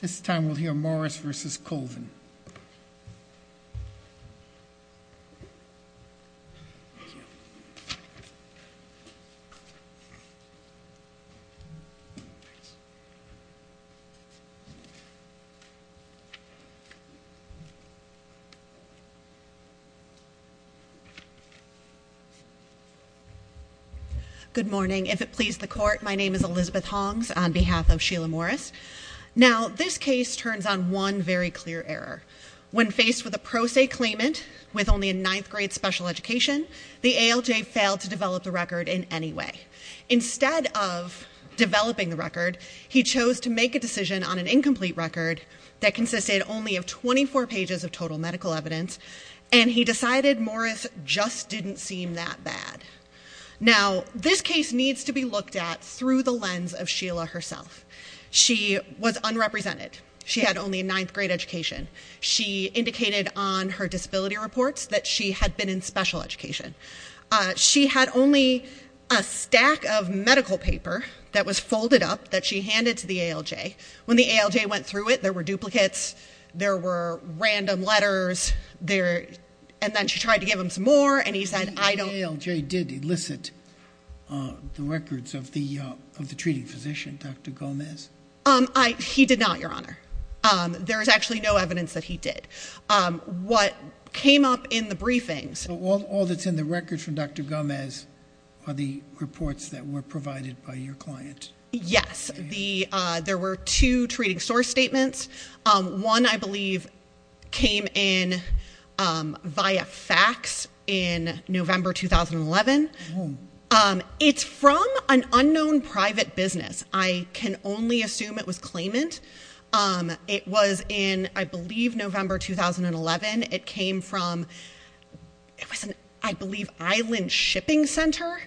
This time we'll hear Morris v. Colvin. Good morning. If it please the court, my name is Elizabeth Hongs on behalf of this case turns on one very clear error. When faced with a pro se claimant with only a ninth grade special education, the ALJ failed to develop the record in any way. Instead of developing the record, he chose to make a decision on an incomplete record that consisted only of 24 pages of total medical evidence and he decided Morris just didn't seem that bad. Now this case needs to be looked at through the lens of Sheila herself. She was unrepresented. She had only a ninth grade education. She indicated on her disability reports that she had been in special education. She had only a stack of medical paper that was folded up that she handed to the ALJ. When the ALJ went through it, there were duplicates, there were random letters, there and then she tried to give him some more and he said I don't... The ALJ did elicit the records of the of the treating physician, Dr. Gomez. Um, he did not, your honor. There is actually no evidence that he did. What came up in the briefings... All that's in the records from Dr. Gomez are the reports that were provided by your client. Yes, the there were two treating source statements. One, I believe, came in via fax in November 2011. It's from an unknown private business. I can only assume it was claimant. It was in, I believe, November 2011. It came from, I believe, Island Shipping Center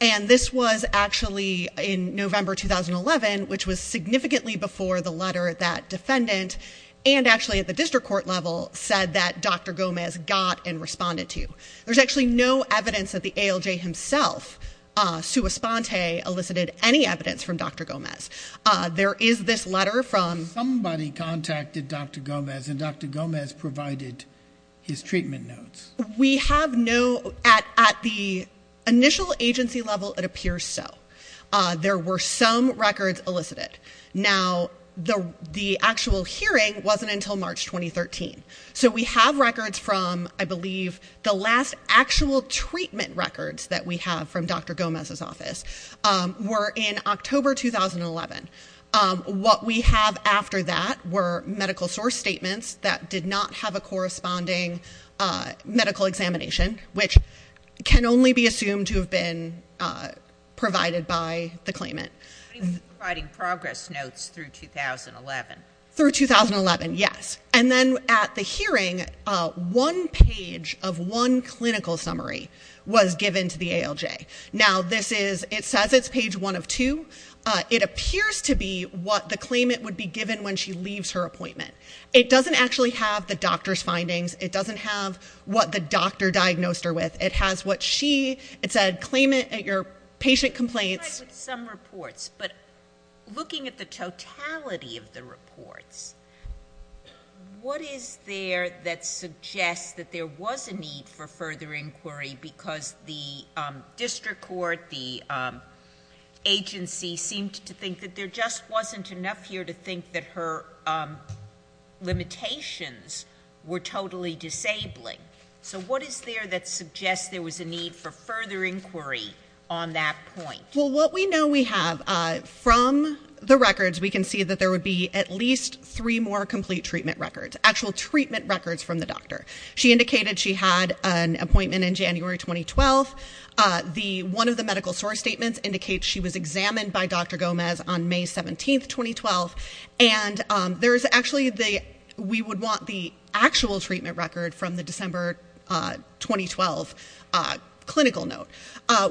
and this was actually in November 2011, which was significantly before the letter that defendant and actually at the district court level said that Dr. Gomez got and responded to. There's actually no evidence that the ALJ himself, Sua Sponte, elicited any evidence from Dr. Gomez. There is this letter from... Somebody contacted Dr. Gomez and Dr. Gomez provided his treatment notes. We have no... At the initial agency level, it appears so. There were some records elicited. Now, the the actual hearing wasn't until March 2013. So we have records from, I believe, the last actual treatment records that we have from Dr. Gomez's office were in October 2011. What we have after that were medical source statements that did not have a corresponding medical examination, which can only be assumed to have been provided by the claimant. Providing progress notes through 2011. Through 2011, yes. And then at the hearing, one page of one clinical summary was given to the ALJ. Now, this is... It says it's page one of two. It appears to be what the claimant would be given when she leaves her appointment. It doesn't actually have the doctor's findings. It doesn't have what the doctor diagnosed her with. It has what she said. Claimant at your patient complaints. Some reports, but looking at the totality of the reports, what is there that suggests that there was a need for further inquiry because the district court, the agency, seemed to think that there just wasn't enough here to think that her limitations were totally disabling. So what is there that suggests there was a need for further inquiry on that point? Well, what we know we have from the records, we can see that there would be at least three more complete treatment records. Actual treatment records from the doctor. She indicated she had an appointment in January 2012. One of the medical source statements indicates she was examined by Dr. Gomez on May 17, 2012. And there's actually the... We would want the actual treatment record from the December 2012 clinical note.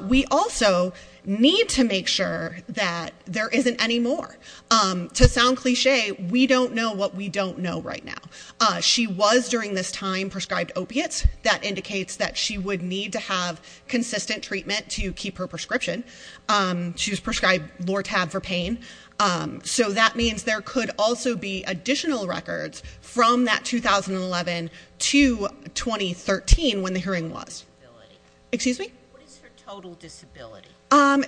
We also need to make sure that there isn't any more. To sound cliche, we don't know what we don't know right now. She was during this time prescribed opiates. That indicates that she would need to have consistent treatment to keep her prescription. She was prescribed Lortab for pain. So that means there could also be additional records from that 2011 to 2013 when the hearing was. Excuse me?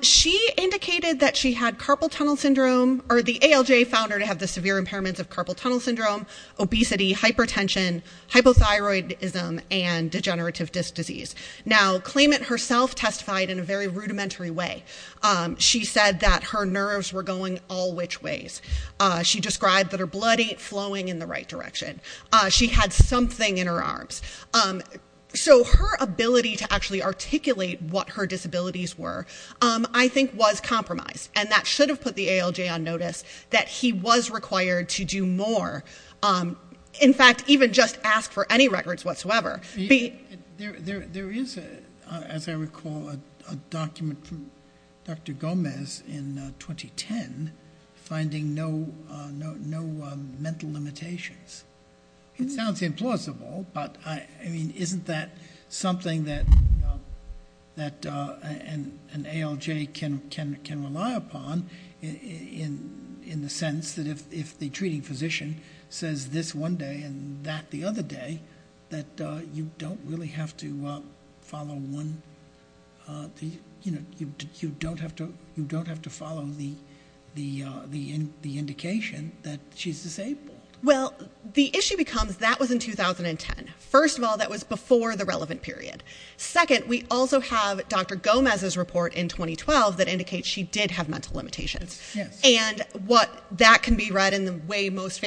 She indicated that she had carpal tunnel syndrome or the ALJ found her to have the severe impairments of carpal tunnel syndrome, obesity, hypertension, hypothyroidism, and degenerative disc disease. Now, claimant herself testified in a very rudimentary way. She said that her nerves were going all which ways. She described that her blood ain't flowing in the right direction. She had something in her arms. So her ability to actually articulate what her disabilities were, I think was compromised. And that should have put the ALJ on notice that he was required to do more. In fact, even just ask for any records whatsoever. There is, as I recall, a document from Dr. Gomez in 2010 finding no mental limitations. It sounds implausible, but isn't that something that an ALJ can rely upon in the sense that if the treating physician says this one day and that the other day, that you don't really have to follow one, you know, you don't have to you don't have to follow the indication that she's disabled. Well, the issue becomes that was in 2010. First of all, that was before the relevant period. Second, we also have Dr. Gomez's report in 2012 that indicates she did have mental limitations. And what that can be read in the way most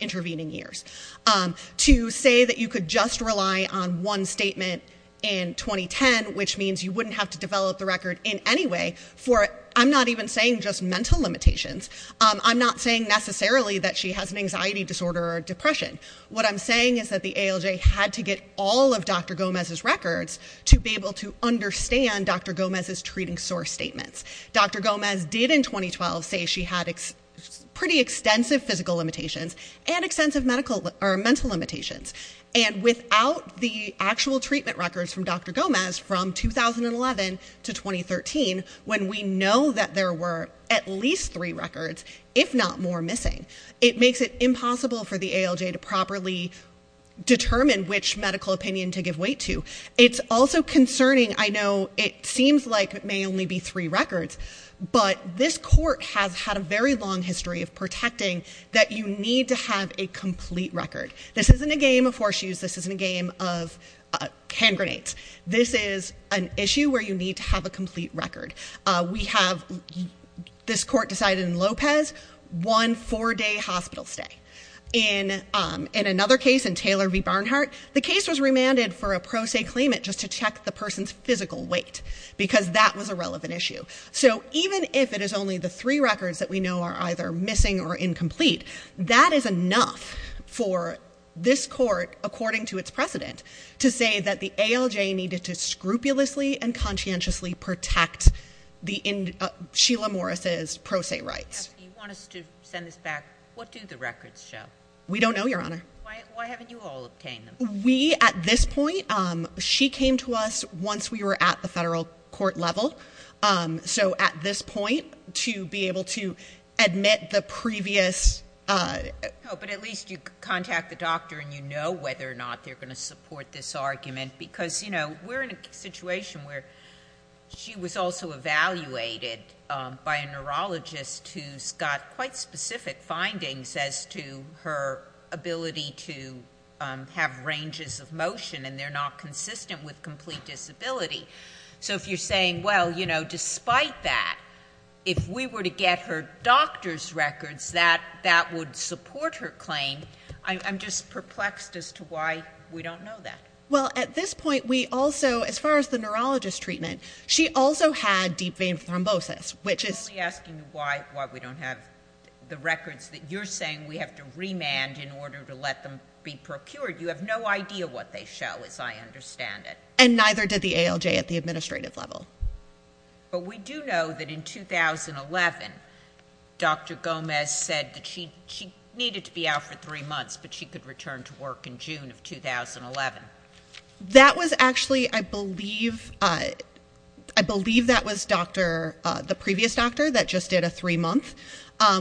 intervening years. To say that you could just rely on one statement in 2010, which means you wouldn't have to develop the record in any way for, I'm not even saying just mental limitations. I'm not saying necessarily that she has an anxiety disorder or depression. What I'm saying is that the ALJ had to get all of Dr. Gomez's records to be able to understand Dr. Gomez's treating source statements. Dr. Gomez did in 2012 say she had pretty extensive physical limitations and extensive medical or mental limitations. And without the actual treatment records from Dr. Gomez from 2011 to 2013, when we know that there were at least three records, if not more missing, it makes it impossible for the ALJ to properly determine which medical opinion to give weight to. It's also concerning. I know it seems like it may only be three records, but this court has had a very long history of protecting that you need to have a complete record. This isn't a game of horseshoes, this isn't a game of hand grenades. This is an issue where you need to have a complete record. We have, this court decided in Lopez, one four-day hospital stay. In another case, in Taylor v. Barnhart, the case was remanded for a pro se claimant just to check the person's physical weight because that was a relevant issue. So even if it is only the three records that we know are either missing or incomplete, that is enough for this court, according to its precedent, to say that the ALJ needed to scrupulously and conscientiously protect Sheila Morris's pro se rights. You want us to send this back. What do the records show? We don't know, Your Honor. Why haven't you all obtained them? We, at this point, she came to us once we were at the federal court level. So at this point, to be able to admit the previous... No, but at least you contact the doctor and you know whether or not they're going to support this argument because, you know, we're in a situation where she was also evaluated by a neurologist who's got quite specific findings as to her ability to have ranges of motion and they're not consistent with complete disability. So if you're saying, well, you know, despite that, if we were to get her doctor's records, that would support her claim. I'm just perplexed as to why we don't know that. Well, at this point, we also, as far as the neurologist treatment, she also had deep vein thrombosis, which is... I'm only asking you why we don't have the records that you're saying we have to remand in order to let them be procured. You have no idea what they show, as I understand it. And neither did the ALJ at the administrative level. But we do know that in 2011, Dr. Gomez said that she needed to be out for three months, but she could return to work in June of 2011. That was actually, I believe, I believe that was the previous doctor that just did a three-month.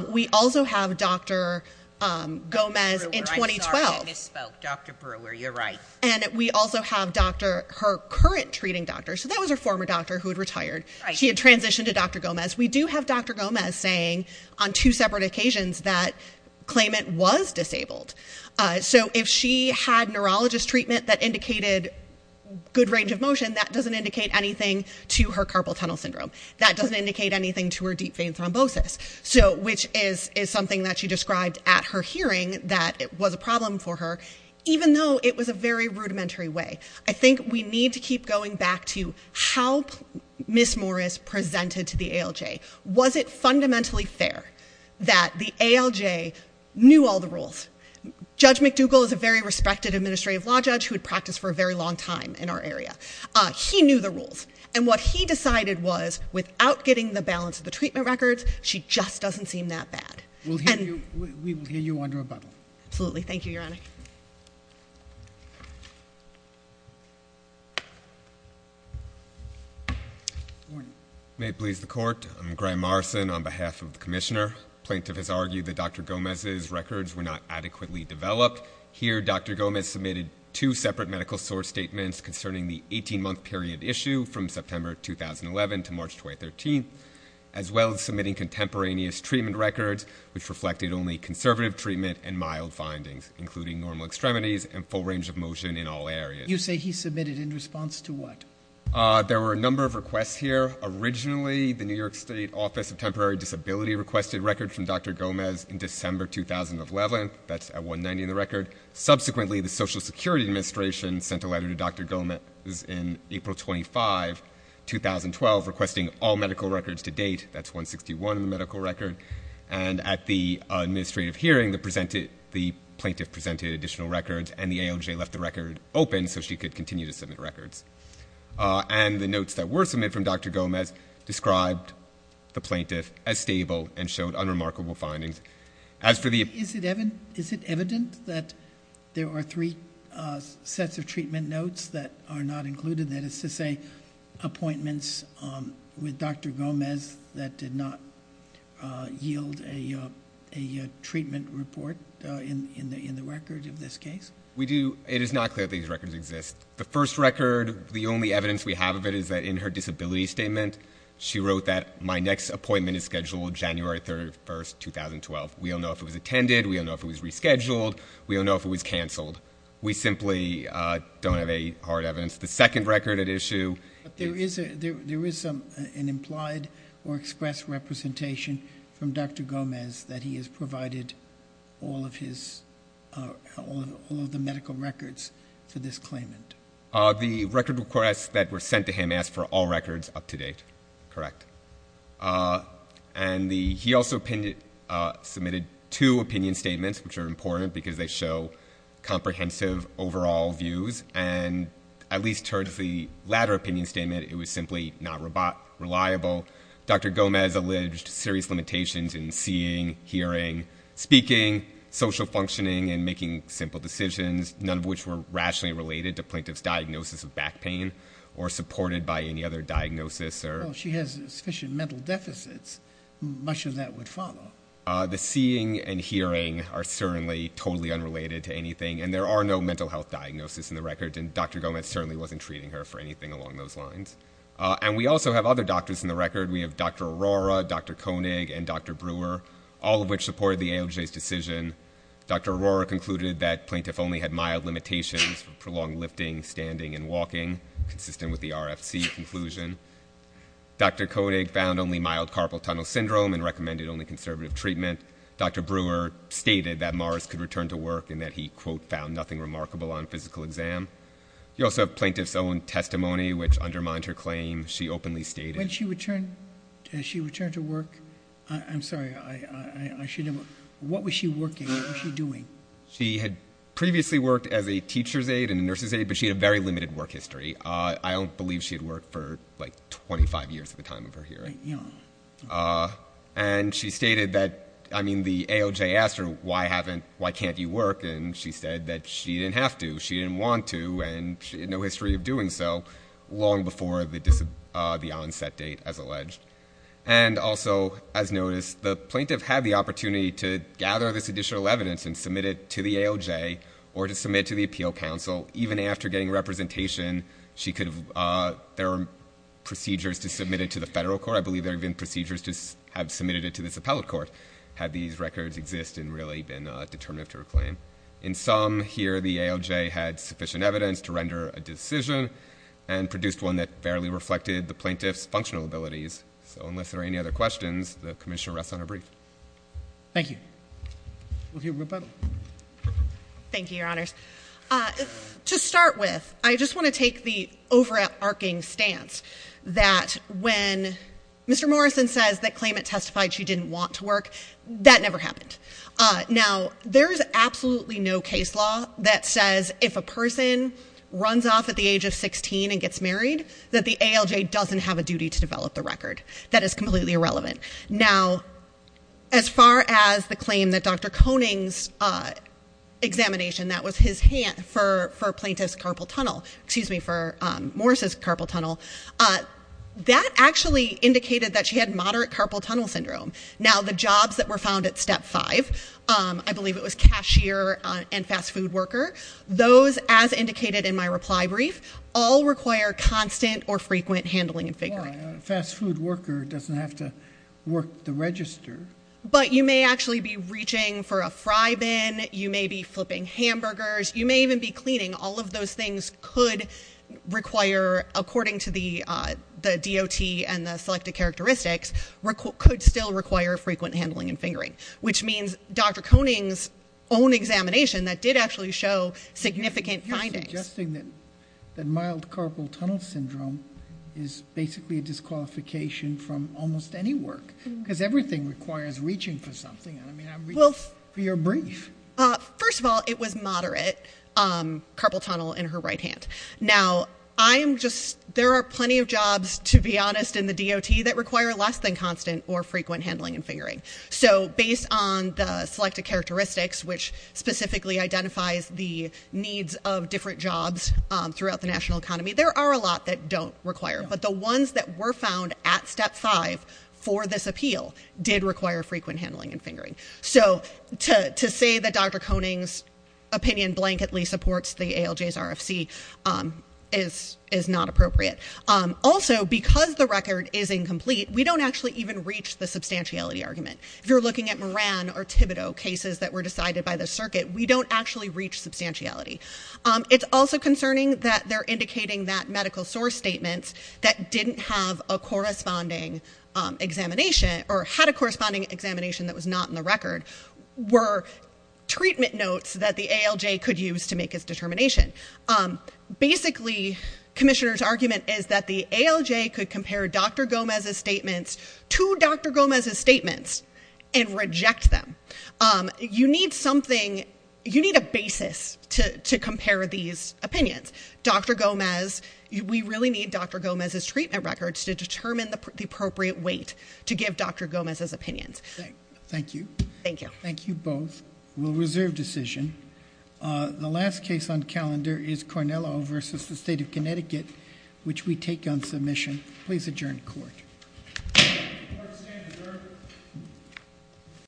We also have Dr. Gomez in 2012. I misspoke, Dr. Brewer, you're right. And we also have her current treating doctor, so that was her former doctor who had retired. She had transitioned to Dr. Gomez. We do have Dr. Gomez saying, on two separate occasions, that claimant was disabled. So if she had neurologist treatment that indicated good range of motion, that doesn't indicate anything to her carpal tunnel syndrome. That doesn't indicate anything to her deep vein thrombosis, which is something that she described at her hearing that it was a very rudimentary way. I think we need to keep going back to how Ms. Morris presented to the ALJ. Was it fundamentally fair that the ALJ knew all the rules? Judge McDougall is a very respected administrative law judge who had practiced for a very long time in our area. He knew the rules. And what he decided was, without getting the balance of the treatment records, she just doesn't seem that bad. We will hear you under a bubble. Absolutely. Thank you, Your Honor. May it please the Court. I'm Graham Morrison on behalf of the Commissioner. Plaintiff has argued that Dr. Gomez's records were not adequately developed. Here, Dr. Gomez submitted two separate medical source statements concerning the 18-month period issue from September 2011 to March 2013, as well as submitting contemporaneous treatment records, which reflected only conservative treatment and mild findings, including normal extremities and full range of motion in all areas. You say he submitted in response to what? There were a number of requests here. Originally, the New York State Office of Temporary Disability requested records from Dr. Gomez in December 2011. That's at 190 in the record. Subsequently, the Social Security Administration sent a letter to Dr. Gomez in April 25, 2012, requesting all medical records to date. That's 161 in the medical record. And at the time, DOJ left the record open so she could continue to submit records. And the notes that were submitted from Dr. Gomez described the plaintiff as stable and showed unremarkable findings. Is it evident that there are three sets of treatment notes that are not included, that is to say appointments with Dr. Gomez that did not yield a treatment report in the record of this case? It is not clear that these records exist. The first record, the only evidence we have of it is that in her disability statement, she wrote that my next appointment is scheduled January 31, 2012. We don't know if it was attended, we don't know if it was rescheduled, we don't know if it was canceled. We simply don't have any hard evidence. The second record at issue... There is an implied or expressed representation from Dr. Gomez that he has all of the medical records for this claimant. The record requests that were sent to him asked for all records up to date, correct? And he also submitted two opinion statements, which are important because they show comprehensive overall views. And at least towards the latter opinion statement, it was simply not reliable. Dr. Gomez alleged serious limitations in seeing, hearing, speaking, social functioning, and making simple decisions, none of which were rationally related to plaintiff's diagnosis of back pain or supported by any other diagnosis. She has sufficient mental deficits. Much of that would follow. The seeing and hearing are certainly totally unrelated to anything, and there are no mental health diagnoses in the record, and Dr. Gomez certainly wasn't treating her for anything along those lines. And we also have other doctors in the record. We have Dr. Aurora, Dr. Koenig, and Dr. Brewer, all of which supported the AOJ's decision. Dr. Aurora concluded that plaintiff only had mild limitations for prolonged lifting, standing, and walking, consistent with the RFC conclusion. Dr. Koenig found only mild carpal tunnel syndrome and recommended only conservative treatment. Dr. Brewer stated that Morris could return to work and that he, quote, found nothing remarkable on physical exam. You also have plaintiff's own testimony, which undermined her claim. She openly stated... When she returned to work, I'm sorry, I should have... What was she working? What was she doing? She had previously worked as a teacher's aide and a nurse's aide, but she had a very limited work history. I don't believe she had worked for, like, 25 years at the time of her hearing. And she stated that, I mean, the AOJ asked her, why can't you work, and she said that she didn't have to. She didn't want to, and she had no history of doing so long before the onset date, as alleged. And also, as noticed, the plaintiff had the opportunity to gather this additional evidence and submit it to the AOJ or to submit it to the Appeal Council. Even after getting representation, she could have... There were procedures to submit it to the federal court. I believe there have been procedures to have submitted it to this appellate court that have had these records exist and really been determinative to her claim. In sum, here the AOJ had sufficient evidence to render a decision and produced one that fairly reflected the plaintiff's functional abilities. So unless there are any other questions, the Commissioner rests on her brief. Thank you. We'll hear rebuttal. Thank you, Your Honors. To start with, I just want to take the overarching stance that when Mr. Morrison says that claimant testified she didn't want to work, that never happened. Now, there is absolutely no case law that says if a person runs off at the age of 16 and gets married that the AOJ doesn't have a duty to develop the record. That is completely irrelevant. Now, as far as the claim that Dr. Koenig's examination, that was his hand for plaintiff's carpal tunnel, excuse me, for Morrison's carpal tunnel, that actually indicated that she had moderate carpal tunnel syndrome. Now, the jobs that were found at Step 5, I believe it was cashier and fast food worker, those, as indicated in my reply brief, all require constant or frequent handling and figuring. A fast food worker doesn't have to work the register. But you may actually be reaching for a fry bin, you may be flipping hamburgers, you may even be cleaning. All of those things could require, according to the DOT and the selected characteristics, could still require frequent handling and fingering, which means Dr. Koenig's own examination that did actually show significant findings. You're suggesting that mild carpal tunnel syndrome is basically a disqualification from almost any work, because everything requires reaching for something. I mean, I'm reaching for your brief. First of all, it was moderate carpal tunnel in her right hand. Now, there are plenty of jobs, to be honest, in the DOT that require less than constant or frequent handling and fingering. So based on the selected characteristics, which specifically identifies the needs of different jobs throughout the national economy, there are a lot that don't require. But the ones that were found at Step 5 for this appeal did require frequent handling and fingering. So to say that Dr. Koenig's opinion blanketly supports the ALJ's RFC is not appropriate. Also, because the record is incomplete, we don't actually even reach the substantiality argument. If you're looking at Moran or Thibodeau cases that were decided by the circuit, we don't actually reach substantiality. It's also concerning that they're indicating that medical source statements that didn't have a corresponding examination or had a corresponding examination that was not in the record were treatment notes that the ALJ could use to make its determination. Basically, Commissioner's argument is that the ALJ could compare Dr. Gomez's statements to Dr. Gomez's statements and reject them. You need something... You need a basis to compare these opinions. Dr. Gomez... We really need Dr. Gomez's treatment records to determine the appropriate weight to give Dr. Gomez's opinions. Thank you. Thank you. Thank you both. We'll reserve decision. The last case on calendar is Cornello v. The State of Connecticut, which we take on submission. Please adjourn court. Court is adjourned.